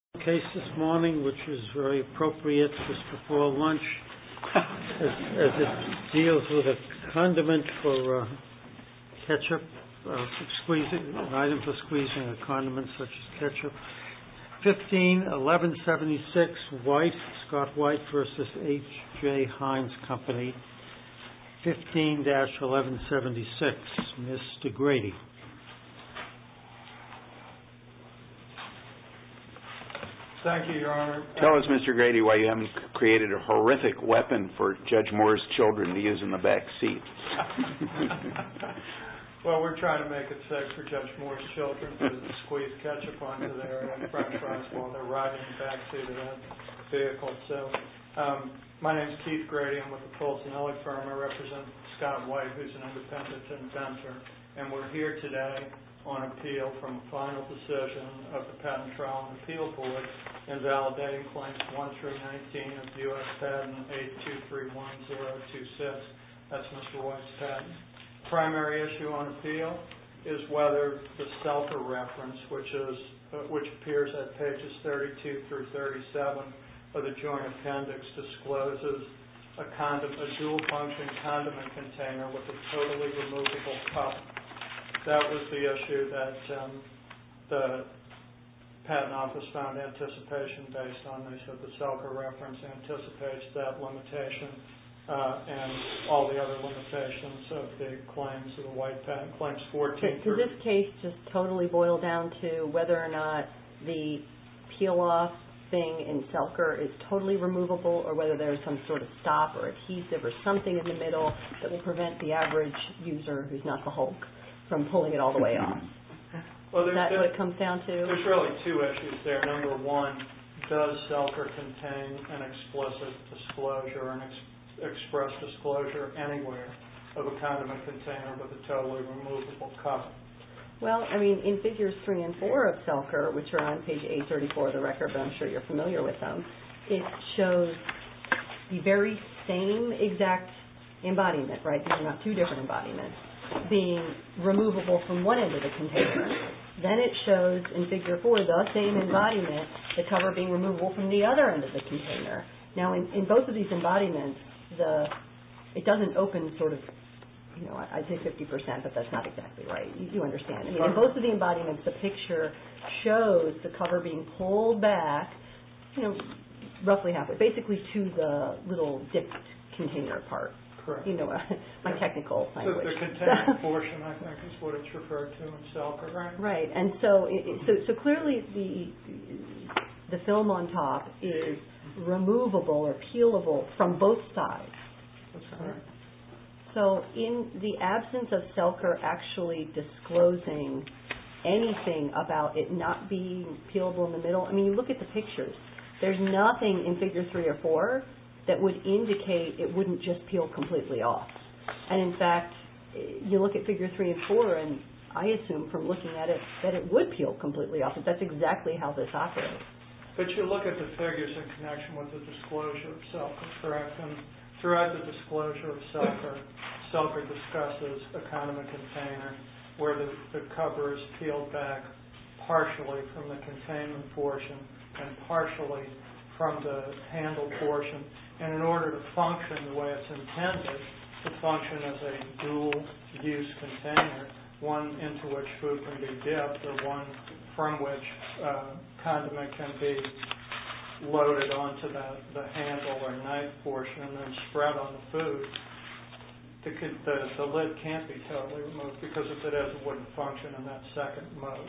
15-1176 White v. H.J. Heinz Company Thank you, Your Honor. Tell us, Mr. Grady, why you haven't created a horrific weapon for Judge Moore's children to use in the back seat. Well, we're trying to make it safe for Judge Moore's children to squeeze ketchup onto their front trucks while they're riding back to the vehicle. My name is Keith Grady. I'm with the Polson-Hilley firm. I represent Scott White, who's an independent inventor. And we're here today on appeal from the final decision of the Patent Trial and Appeal Board in validating Claims 1-19 of the U.S. Patent 8231026. That's Mr. White's patent. Primary issue on appeal is whether the self-reference, which appears on pages 32-37 of the Joint Appendix, discloses a dual-function condiment container with a totally removable cup. That was the issue that the Patent Office found anticipation based on. They said the self-reference anticipates that limitation and all the other limitations of the claims, of the white patent claims 14-3. Does this case just totally boil down to whether or not the peel-off thing in Selker is totally removable or whether there's some sort of stop or adhesive or something in the middle that will prevent the average user who's not the Hulk from pulling it all the way off? Is that what it comes down to? There's really two issues there. Number one, does Selker contain an explicit disclosure or an express disclosure anywhere of a condiment container with a totally removable cup? Well, I mean, in Figures 3 and 4 of Selker, which are on page 834 of the record, but I'm sure you're familiar with them, it shows the very same exact embodiment, right? These are not two different embodiments, being removable from one end of the container. Then it shows in Figure 4 the same embodiment, the cover being removable from the other end of the container. Now, in both of these embodiments, it doesn't open sort of, you know, I'd say 50%, but that's not exactly right. You understand. In both of the embodiments, the picture shows the cover being pulled back, you know, roughly halfway, basically to the little dipped container part. Correct. My technical language. The container portion, I think, is what it's referred to in Selker, right? Right, and so clearly the film on top is removable or peelable from both sides. That's correct. So in the absence of Selker actually disclosing anything about it not being peelable in the middle, I mean, you look at the pictures. There's nothing in Figure 3 or 4 that would indicate it wouldn't just peel completely off. And, in fact, you look at Figure 3 and 4, and I assume from looking at it that it would peel completely off. That's exactly how this operates. But you look at the figures in connection with the disclosure of Selker, correct? And throughout the disclosure of Selker, Selker discusses a kind of a container where the cover is peeled back partially from the containment portion and partially from the handle portion. And in order to function the way it's intended to function as a dual-use container, one into which food can be dipped or one from which condiment can be loaded onto the handle or knife portion and then spread on the food, the lid can't be totally removed because if it is, it wouldn't function in that second mode.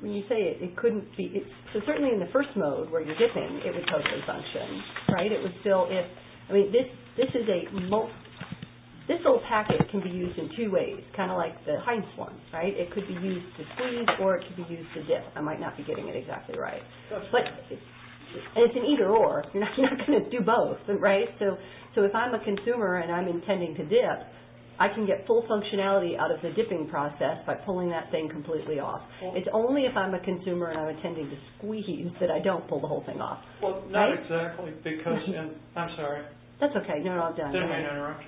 When you say it couldn't be... So certainly in the first mode where you're dipping, it would totally function, right? It would still... I mean, this is a... This little packet can be used in two ways, kind of like the Heins one, right? It could be used to squeeze or it could be used to dip. I might not be getting it exactly right. But it's an either-or. You're not going to do both, right? So if I'm a consumer and I'm intending to dip, I can get full functionality out of the dipping process by pulling that thing completely off. It's only if I'm a consumer and I'm intending to squeeze that I don't pull the whole thing off. Well, not exactly because... I'm sorry. That's okay. No, no, I'm done. Did I interrupt?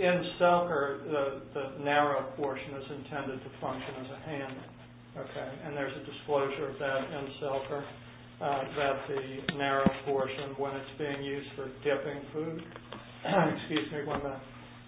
In selker, the narrow portion is intended to function as a handle. Okay. And there's a disclosure of that in selker that the narrow portion, when it's being used for dipping food... Excuse me.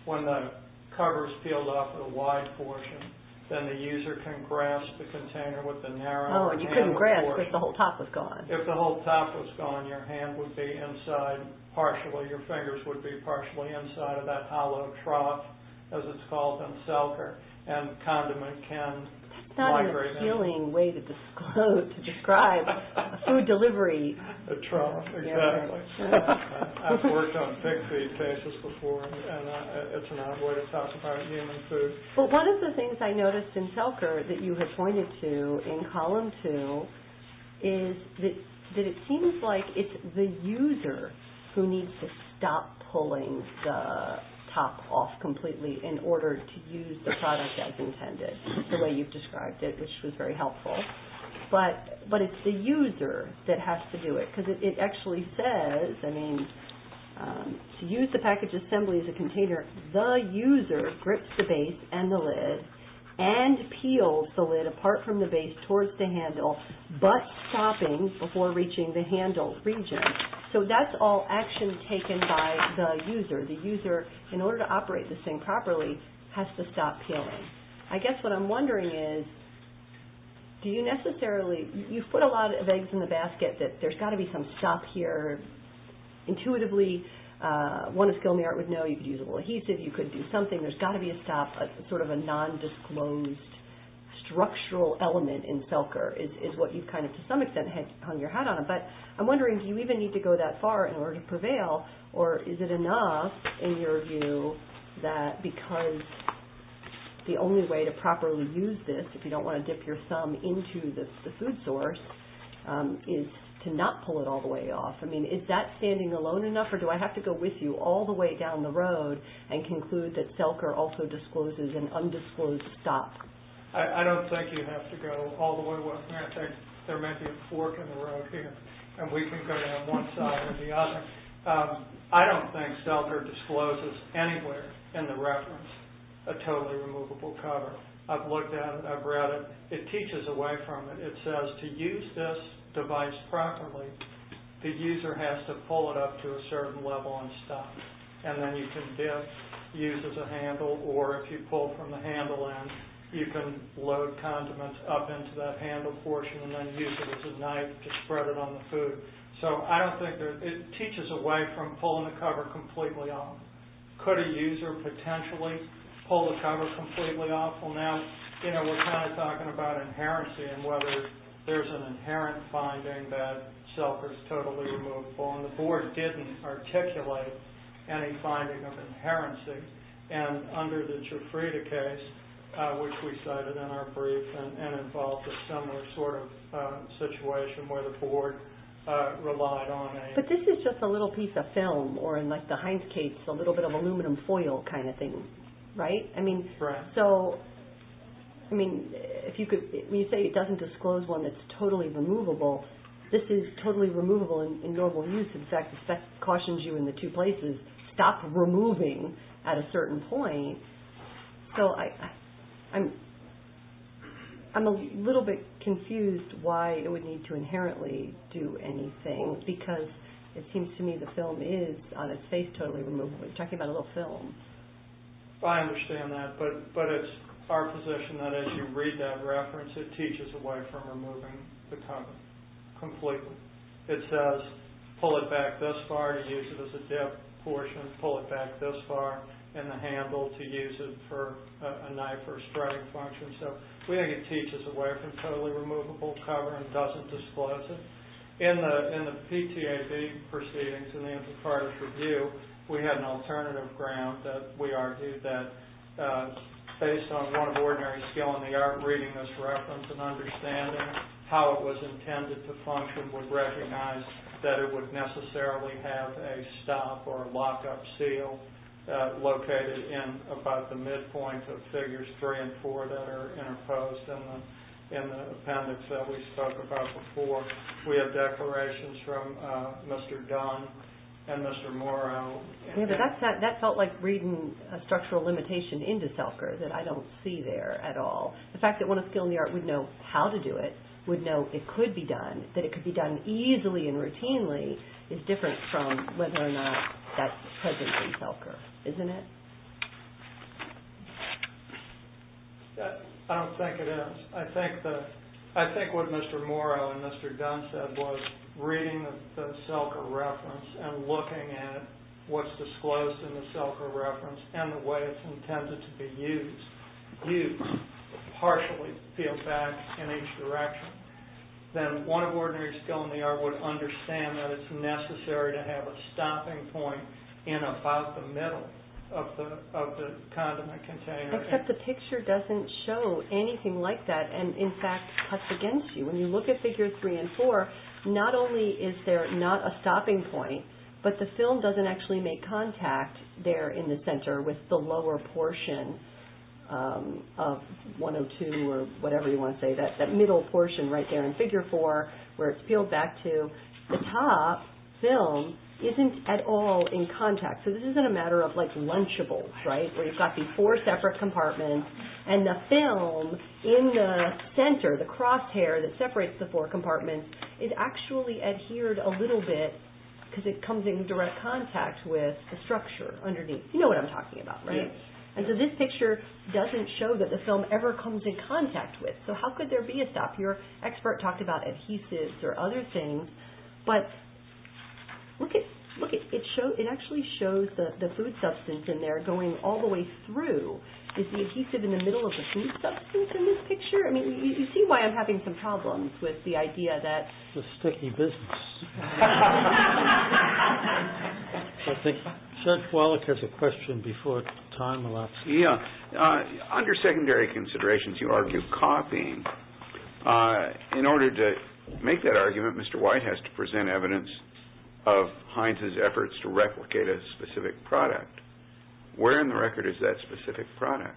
When the cover is peeled off with a wide portion, then the user can grasp the container with the narrow portion. Oh, and you couldn't grasp if the whole top was gone. If the whole top was gone, your hand would be inside, partially, your fingers would be partially inside of that hollow trough, as it's called in selker, and the condiment can migrate in. That's not an appealing way to describe food delivery. A trough, exactly. I've worked on pig feed cases before, and it's an odd way to talk about human food. Well, one of the things I noticed in selker that you had pointed to in column 2 is that it seems like it's the user who needs to stop pulling the top off completely in order to use the product as intended, the way you've described it, which was very helpful. But it's the user that has to do it because it actually says, I mean, to use the package assembly as a container, the user grips the base and the lid and peels the lid apart from the base towards the handle but stopping before reaching the handle region. So that's all action taken by the user. The user, in order to operate this thing properly, has to stop peeling. I guess what I'm wondering is, do you necessarily, you've put a lot of eggs in the basket that there's got to be some stop here. Intuitively, one of skill in the art would know you could use a little adhesive, you could do something. There's got to be a stop, sort of a non-disclosed structural element in selker is what you've kind of, to some extent, hung your hat on. But I'm wondering, do you even need to go that far in order to prevail, or is it enough, in your view, that because the only way to properly use this, if you don't want to dip your thumb into the food source, is to not pull it all the way off? I mean, is that standing alone enough, or do I have to go with you all the way down the road and conclude that selker also discloses an undisclosed stop? I don't think you have to go all the way with me. I think there may be a fork in the road here, and we can go down one side or the other. I don't think selker discloses anywhere in the reference a totally removable cover. I've looked at it, I've read it. It teaches away from it. It says to use this device properly, the user has to pull it up to a certain level and stop. And then you can dip, use as a handle, or if you pull from the handle end, you can load condiments up into that handle portion and then use it as a knife to spread it on the food. So I don't think there's... It teaches away from pulling the cover completely off. Could a user potentially pull the cover completely off? Well, now, you know, we're kind of talking about inherency and whether there's an inherent finding that selker's totally removable, and the board didn't articulate any finding of inherency. And under the Cifreda case, which we cited in our brief, and involves a similar sort of situation where the board relied on a... But this is just a little piece of film, or in, like, the Heinz case, a little bit of aluminum foil kind of thing, right? Right. So, I mean, if you could... When you say it doesn't disclose one that's totally removable, this is totally removable in normal use. In fact, it cautions you in the two places, stop removing at a certain point. So I'm a little bit confused why it would need to inherently do anything, because it seems to me the film is, on its face, totally removable. We're talking about a little film. I understand that, but it's our position that as you read that reference, it teaches away from removing the cover completely. It says, pull it back this far to use it as a dip portion, pull it back this far in the handle to use it for a knife or a strutting function. So we think it teaches away from totally removable cover and doesn't disclose it. In the PTAB proceedings, in the Antipartist Review, we had an alternative ground that we argued that, based on one of ordinary skill in the art reading this reference and understanding how it was intended to function, would recognize that it would necessarily have a stop or a lock-up seal located in about the midpoint of figures 3 and 4 that are interposed in the appendix that we spoke about before. We have declarations from Mr. Dunn and Mr. Morrow. That felt like reading a structural limitation into Selker that I don't see there at all. The fact that one of skill in the art would know how to do it, would know it could be done, that it could be done easily and routinely, is different from whether or not that's present in Selker, isn't it? I don't think it is. I think what Mr. Morrow and Mr. Dunn said was reading the Selker reference and looking at what's disclosed in the Selker reference and the way it's intended to be used partially feels bad in each direction. Then one of ordinary skill in the art would understand that it's necessary to have a stopping point in about the middle of the condiment container. Except the picture doesn't show anything like that and in fact cuts against you. When you look at figures 3 and 4, not only is there not a stopping point, but the film doesn't actually make contact there in the center with the lower portion of 102 or whatever you want to say, that middle portion right there in figure 4 where it's peeled back to. The top film isn't at all in contact. So this isn't a matter of like lunchables, right? Where you've got these four separate compartments and the film in the center, the crosshair that separates the four compartments is actually adhered a little bit because it comes in direct contact with the structure underneath. You know what I'm talking about, right? And so this picture doesn't show that the film ever comes in contact with. So how could there be a stop? Your expert talked about adhesives or other things. But look, it actually shows the food substance in there going all the way through. Is the adhesive in the middle of the food substance in this picture? I mean, you see why I'm having some problems with the idea that... It's a sticky business. laughter I think Serge Wallach has a question before time elapses. Yeah. Under secondary considerations, you argue copying. In order to make that argument, Mr. White has to present evidence of Heinz's efforts to replicate a specific product. Where in the record is that specific product?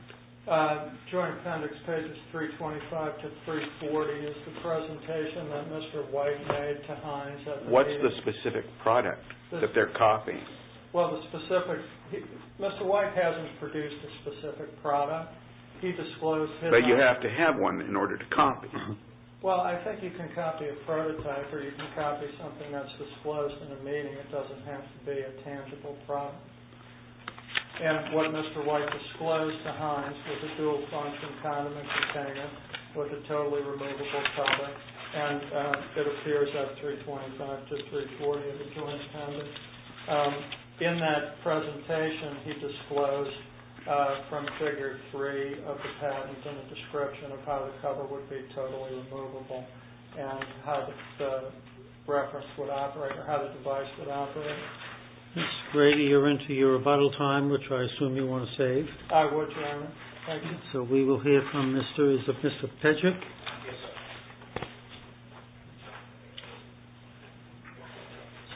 Joint appendix pages 325 to 340 is the presentation that Mr. White made to Heinz. What's the specific product that they're copying? Well, the specific... Mr. White hasn't produced a specific product. He disclosed his... But you have to have one in order to copy. Well, I think you can copy a prototype or you can copy something that's disclosed in a meeting. It doesn't have to be a tangible product. And what Mr. White disclosed to Heinz was a dual-function condiment container with a totally removable cover. And it appears up 325 to 340 in the joint appendix. In that presentation, he disclosed from Figure 3 of the patent and a description of how the cover would be totally removable and how the reference would operate or how the device would operate. Ms. Grady, you're into your rebuttal time, which I assume you want to save. I would, Your Honor. Thank you. So we will hear from Mr. Pejic. Yes, sir.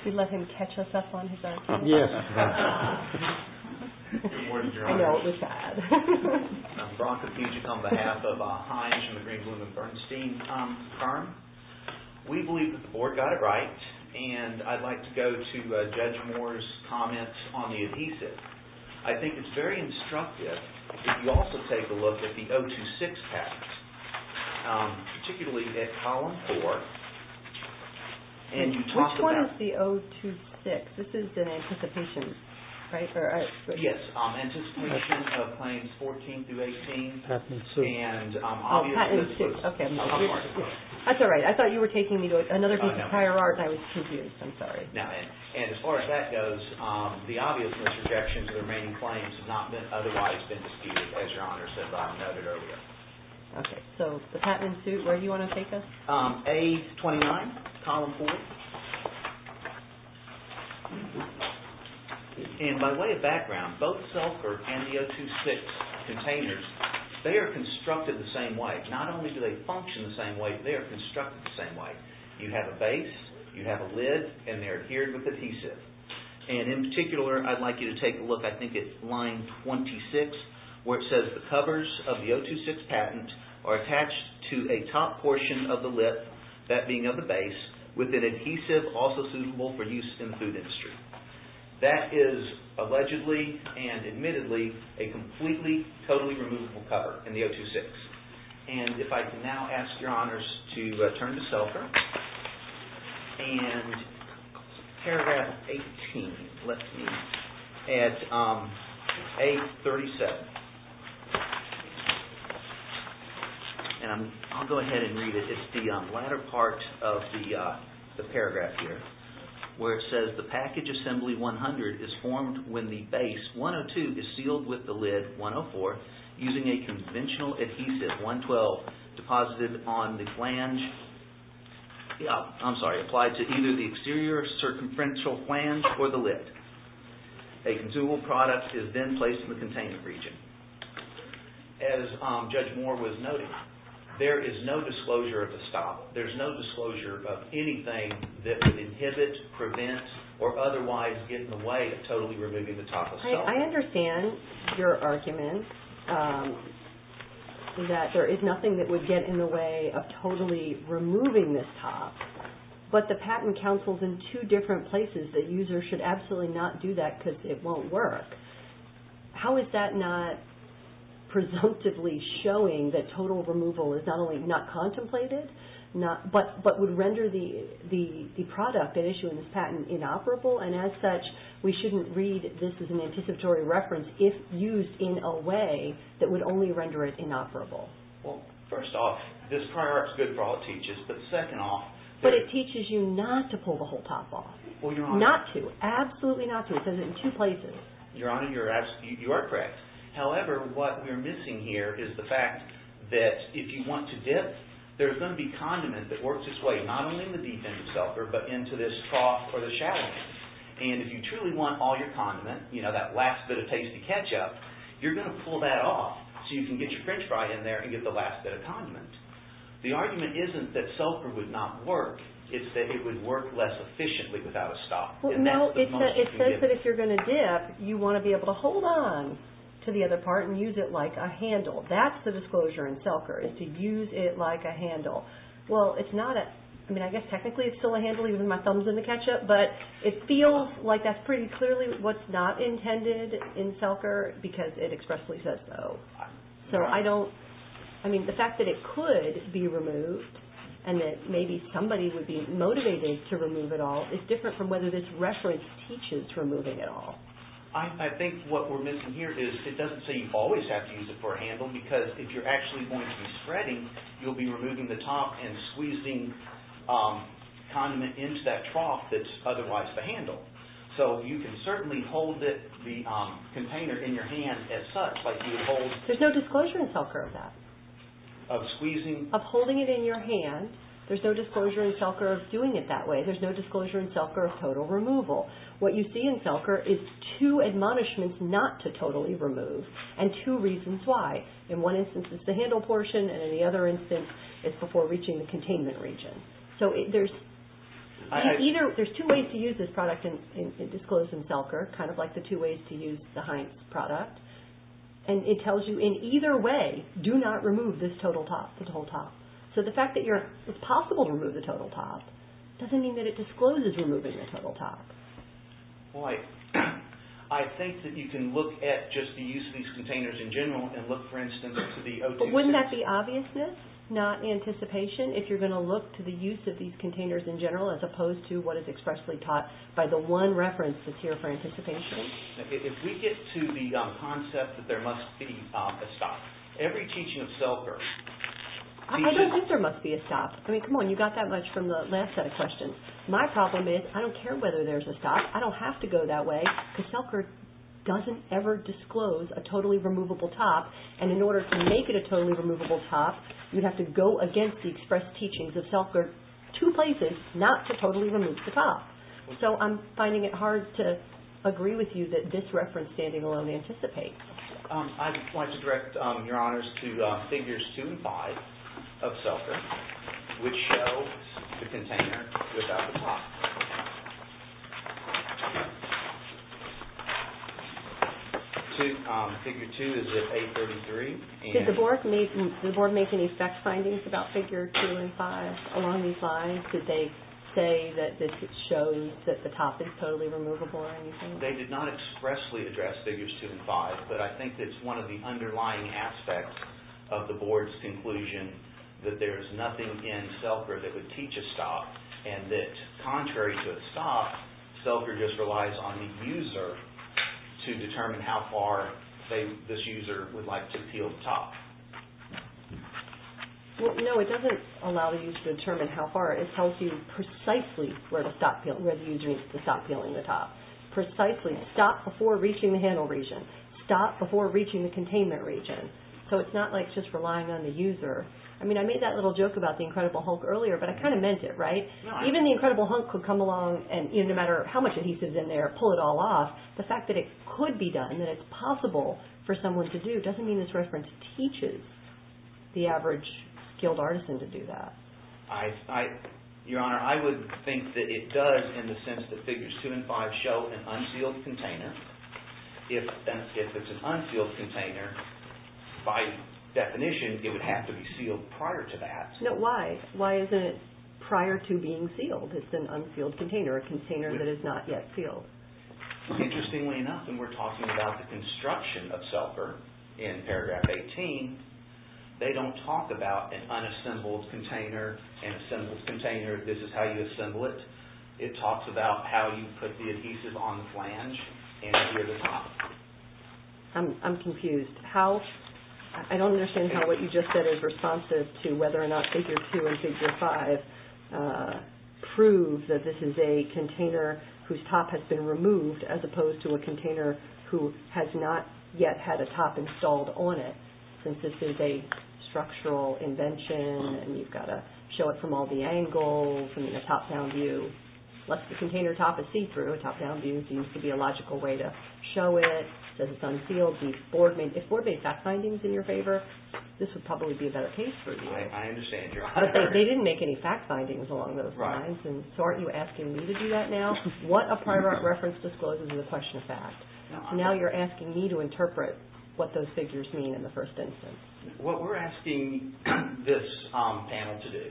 Should we let him catch us up on his argument? Yes. Good morning, Your Honor. I know, it was bad. I'm Brock Pejic on behalf of Heinz and the Green Bloom and Bernstein firm. We believe that the Board got it right and I'd like to go to Judge Moore's comments on the adhesive. I think it's very instructive if you also take a look at the 026 patent, particularly at Column 4. Which one is the 026? This is in anticipation, right? Yes, anticipation of claims 14 through 18. Oh, patent and suit. That's all right. I thought you were taking me to another piece of higher art and I was confused. I'm sorry. And as far as that goes, the obvious misrejections of the remaining claims have not otherwise been disputed, as Your Honor noted earlier. Okay. So the patent and suit, where do you want to take us? A29, Column 4. And by way of background, both SELFR and the 026 containers, they are constructed the same way. Not only do they function the same way, they are constructed the same way. You have a base, you have a lid, and they're adhered with adhesive. And in particular, I'd like you to take a look, I think it's line 26, where it says the covers of the 026 patent are attached to a top portion of the lip, that being of the base, with an adhesive also suitable for use in the food industry. That is allegedly and admittedly a completely, totally removable cover in the 026. And if I can now ask Your Honors to turn to SELFR, and paragraph 18, let's see, at A37. And I'll go ahead and read it. It's the latter part of the paragraph here, where it says, the package assembly 100 is formed when the base 102 is sealed with the lid 104 using a conventional adhesive 112 deposited on the flange, I'm sorry, applied to either the exterior circumferential flange or the lid. A consumable product is then placed in the containment region. As Judge Moore was noting, there is no disclosure of a stop. There's no disclosure of anything that would inhibit, prevent, or otherwise get in the way of totally removing the top of SELFR. I understand your argument that there is nothing that would get in the way of totally removing this top. But the patent counsels in two different places that users should absolutely not do that because it won't work. How is that not presumptively showing that total removal is not only not contemplated, but would render the product at issue in this patent inoperable? And as such, we shouldn't read this as an anticipatory reference if used in a way that would only render it inoperable. Well, first off, this paragraph is good for all it teaches, but second off... But it teaches you not to pull the whole top off. Not to, absolutely not to. It says it in two places. Your Honor, you are correct. However, what we're missing here is the fact that if you want to dip, there's going to be condiment that works its way not only in the deep end of SELFR, but into this top or the shallow end. And if you truly want all your condiment, you know, that last bit of tasty ketchup, you're going to pull that off so you can get your french fry in there and get the last bit of condiment. The argument isn't that SELFR would not work. It's that it would work less efficiently without a stop. Well, no, it says that if you're going to dip, you want to be able to hold on to the other part and use it like a handle. That's the disclosure in SELFR, is to use it like a handle. Well, it's not a... I mean, I guess technically it's still a handle, even with my thumbs in the ketchup, but it feels like that's pretty clearly what's not intended in SELFR because it expressly says so. So I don't... I mean, the fact that it could be removed and that maybe somebody would be motivated to remove it all is different from whether this reference teaches removing at all. I think what we're missing here is it doesn't say you always have to use it for a handle because if you're actually going to be spreading, you'll be removing the top and squeezing condiment into that trough that's otherwise the handle. So you can certainly hold the container in your hand as such, but you hold... There's no disclosure in SELFR of that. Of squeezing? Of holding it in your hand. There's no disclosure in SELFR of doing it that way. There's no disclosure in SELFR of total removal. What you see in SELFR is two admonishments not to totally remove and two reasons why. In one instance, it's the handle portion, and in the other instance, it's before reaching the containment region. So there's two ways to use this product in disclosure in SELFR, kind of like the two ways to use the Heinz product, and it tells you in either way, do not remove this total top, this whole top. So the fact that it's possible to remove the total top doesn't mean that it discloses removing the total top. Boy, I think that you can look at just the use of these containers in general and look, for instance, at the O2... But wouldn't that be obviousness, not anticipation, if you're going to look to the use of these containers in general as opposed to what is expressly taught by the one reference that's here for anticipation? If we get to the concept that there must be a stop, every teaching of SELFR... I don't think there must be a stop. I mean, come on, you got that much from the last set of questions. My problem is I don't care whether there's a stop. I don't have to go that way because SELFR doesn't ever disclose a totally removable top, and in order to make it a totally removable top, you'd have to go against the expressed teachings of SELFR two places not to totally remove the top. So I'm finding it hard to agree with you that this reference standing alone anticipates. I'd like to direct your honors to figures 2 and 5 of SELFR, which show the container without the top. Figure 2 is at 833. Did the board make any fact findings about figure 2 and 5 along these lines? Did they say that this shows that the top is totally removable or anything? They did not expressly address figures 2 and 5, but I think that's one of the underlying aspects of the board's conclusion that there's nothing in SELFR that would teach a stop and that contrary to a stop, SELFR just relies on the user to determine how far, say, this user would like to peel the top. No, it doesn't allow the user to determine how far. It tells you precisely where the user needs to stop peeling the top, precisely stop before reaching the handle region, stop before reaching the containment region. So it's not like it's just relying on the user. I mean, I made that little joke about the Incredible Hulk earlier, but I kind of meant it, right? Even the Incredible Hulk could come along and, no matter how much adhesive is in there, pull it all off. The fact that it could be done, that it's possible for someone to do, doesn't mean this reference teaches the average skilled artisan to do that. Your Honor, I would think that it does in the sense that figures 2 and 5 show an unsealed container. If it's an unsealed container, by definition, it would have to be sealed prior to that. No, why? Why isn't it prior to being sealed? It's an unsealed container, a container that is not yet sealed. Interestingly enough, when we're talking about the construction of SELFR in paragraph 18, they don't talk about an unassembled container, an assembled container, this is how you assemble it. It talks about how you put the adhesive on the flange and near the top. I'm confused. I don't understand how what you just said is responsive to whether or not figure 2 and figure 5 prove that this is a container whose top has been removed as opposed to a container who has not yet had a top installed on it, since this is a structural invention, and you've got to show it from all the angles and a top-down view. Unless the container top is see-through, a top-down view seems to be a logical way to show it that it's unsealed. If Board made fact findings in your favor, this would probably be a better case for you. I understand, Your Honor. But they didn't make any fact findings along those lines, and so aren't you asking me to do that now? What a prior reference discloses is a question of fact. Now you're asking me to interpret what those figures mean in the first instance. What we're asking this panel to do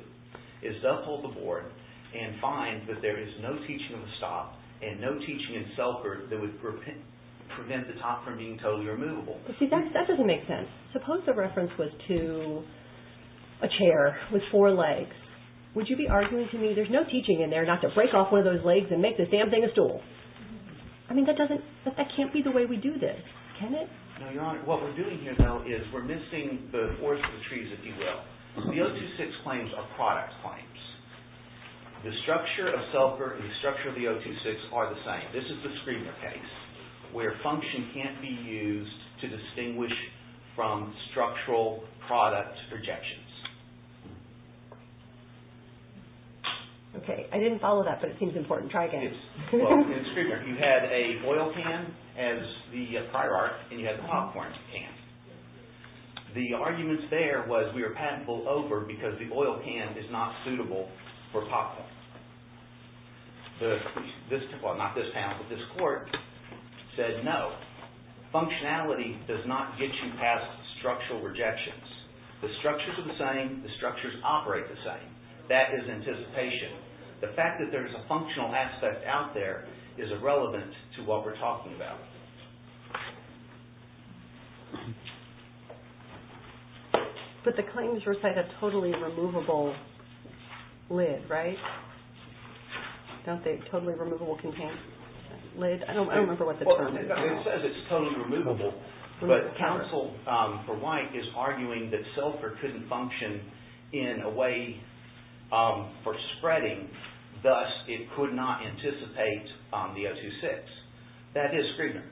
is to uphold the Board and find that there is no teaching of a stop and no teaching in Selkirk that would prevent the top from being totally removable. See, that doesn't make sense. Suppose the reference was to a chair with four legs. Would you be arguing to me there's no teaching in there not to break off one of those legs and make this damn thing a stool? I mean, that can't be the way we do this, can it? No, Your Honor. What we're doing here, though, is we're missing the horse and the trees, if you will. The 026 claims are product claims. The structure of Selkirk and the structure of the 026 are the same. This is the Screamer case where function can't be used to distinguish from structural product projections. Okay, I didn't follow that, but it seems important. Try again. Well, in Screamer, you had an oil can as the prior art and you had the popcorn can. The arguments there was we were patentable over because the oil can is not suitable for popcorn. Well, not this panel, but this court said no. Functionality does not get you past structural rejections. The structures are the same. The structures operate the same. That is anticipation. The fact that there's a functional aspect out there is irrelevant to what we're talking about. But the claims recite a totally removable lid, right? Don't they? Totally removable contained lid? I don't remember what the term is. It says it's totally removable, but counsel for White is arguing that Selkirk couldn't function in a way for spreading, thus it could not anticipate the O2-6. That is Screamer.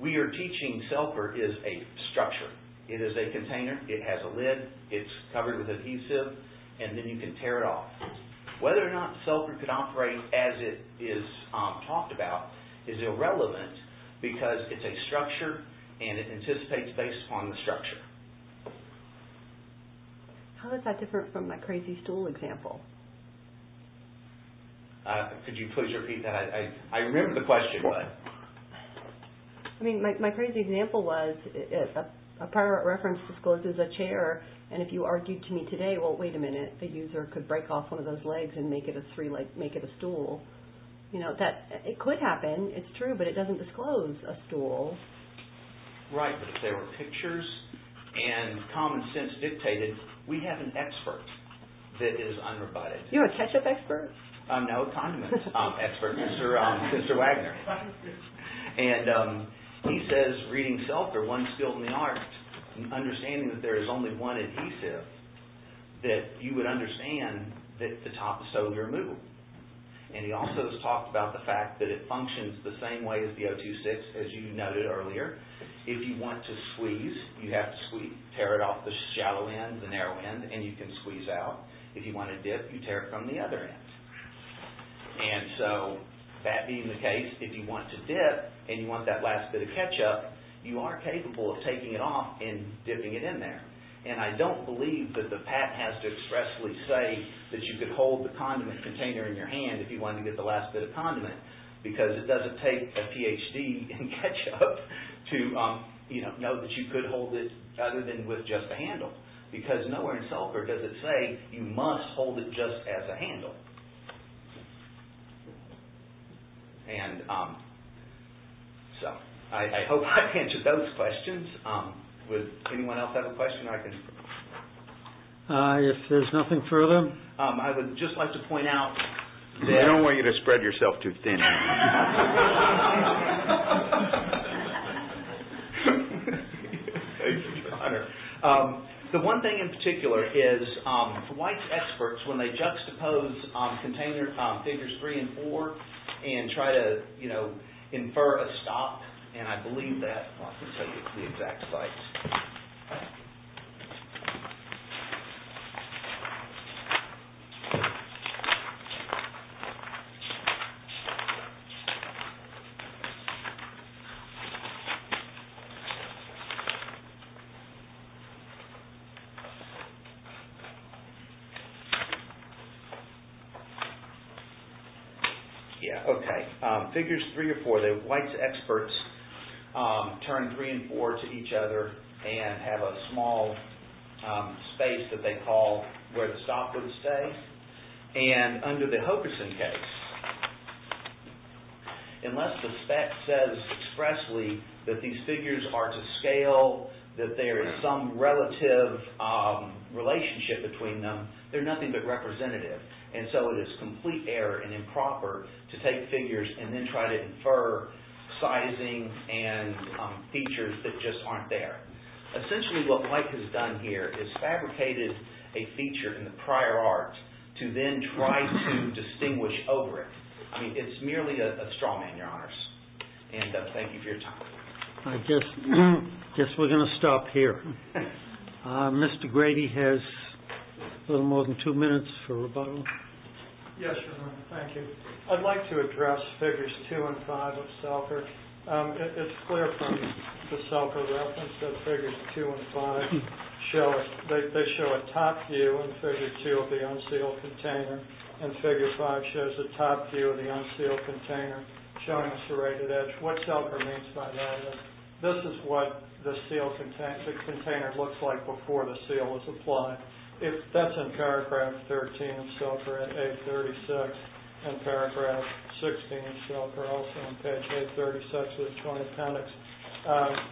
We are teaching Selkirk is a structure. It is a container. It has a lid. It's covered with adhesive, and then you can tear it off. Whether or not Selkirk could operate as it is talked about is irrelevant because it's a structure and it anticipates based upon the structure. How is that different from my crazy stool example? Could you please repeat that? I remember the question, but... I mean, my crazy example was a pirate reference discloses a chair, and if you argued to me today, well, wait a minute, the user could break off one of those legs and make it a stool. You know, it could happen. It's true, but it doesn't disclose a stool. Right, but if there were pictures and common sense dictated, we have an expert that is unrebutted. You're a ketchup expert. No, condiments expert, Mr. Wagner. He says reading Selkirk, one skill in the art, understanding that there is only one adhesive, that you would understand that the top is totally removable. And he also has talked about the fact that it functions the same way as the 026, as you noted earlier. If you want to squeeze, you have to squeeze. Tear it off the shallow end, the narrow end, and you can squeeze out. If you want to dip, you tear it from the other end. And so, that being the case, if you want to dip and you want that last bit of ketchup, you are capable of taking it off and dipping it in there. And I don't believe that the patent has to expressly say that you could hold the condiment container in your hand if you wanted to get the last bit of condiment. Because it doesn't take a PhD in ketchup to know that you could hold it other than with just a handle. Because nowhere in Selkirk does it say you must hold it just as a handle. So, I hope I've answered those questions. Would anyone else have a question? If there's nothing further, I would just like to point out that... I don't want you to spread yourself too thin. The one thing in particular is that white experts, when they juxtapose figures three and four and try to, you know, infer a stop, and I believe that. I want to show you the exact slides. Yeah, okay. Figures three or four, the white experts turn three and four to each other and have a small space that they call where the stop would stay. And under the Hokuson case, unless the spec says expressly that these figures are to scale, that there is some relative relationship between them, they're nothing but representative. And so, it is complete error and improper to take figures and then try to infer sizing and features that just aren't there. Essentially, what Mike has done here is fabricated a feature in the prior art to then try to distinguish over it. I mean, it's merely a straw man, Your Honors. And thank you for your time. I guess we're going to stop here. Mr. Grady has a little more than two minutes for rebuttal. Yes, Your Honor, thank you. I'd like to address figures two and five of SELFR. It's clear from the SELFR reference that figures two and five show a top view in figure two of the unsealed container, and figure five shows a top view of the unsealed container showing a serrated edge. What SELFR means by that is, this is what the container looks like before the seal is applied. That's in paragraph 13 of SELFR at page 836, and paragraph 16 of SELFR also on page 836 of the Joint Appendix.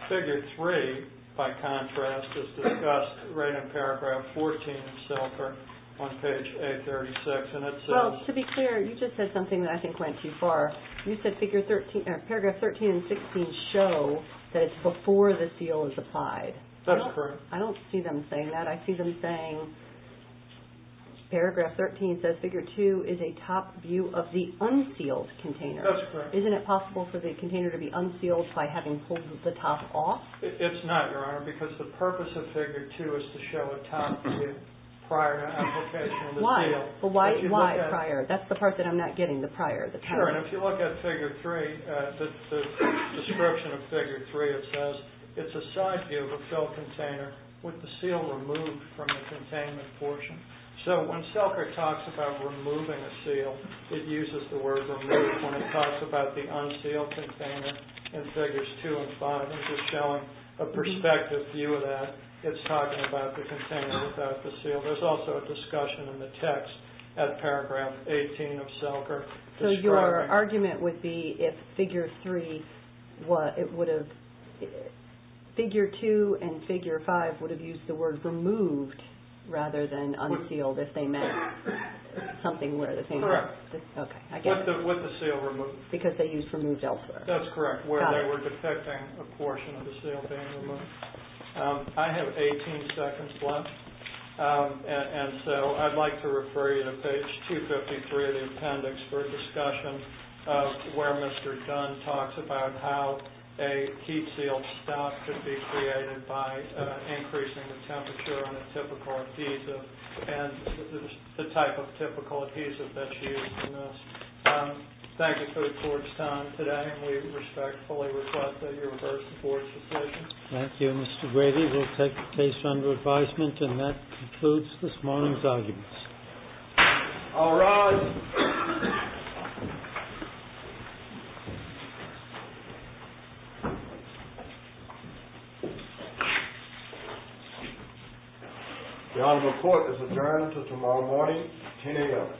Figure three, by contrast, is discussed right in paragraph 14 of SELFR on page 836. Well, to be clear, you just said something that I think went too far. You said paragraph 13 and 16 show that it's before the seal is applied. That's correct. I don't see them saying that. I see them saying paragraph 13 says figure two is a top view of the unsealed container. That's correct. Isn't it possible for the container to be unsealed by having pulled the top off? It's not, Your Honor, because the purpose of figure two is to show a top view prior to application of the seal. Why? Why prior? That's the part that I'm not getting, the prior. If you look at figure three, the description of figure three, it says, it's a side view of a filled container with the seal removed from the containment portion. So when SELFR talks about removing a seal, it uses the word remove. When it talks about the unsealed container in figures two and five, it's just showing a perspective view of that. It's talking about the container without the seal. So your argument would be if figure three would have, figure two and figure five would have used the word removed rather than unsealed if they meant something where the seal was. Correct. Okay. With the seal removed. Because they used removed SELFR. That's correct, where they were detecting a portion of the seal being removed. I have 18 seconds left, and so I'd like to refer you to page 253 of the appendix for discussion of where Mr. Dunn talks about how a heat seal stop can be created by increasing the temperature on a typical adhesive and the type of typical adhesive that's used in this. Thank you for your time today, and we respectfully request that you reverse the board's decision. Thank you, Mr. Grady. We'll take the case under advisement, and that concludes this morning's arguments. All rise. The honorable court is adjourned until tomorrow morning at 10 a.m.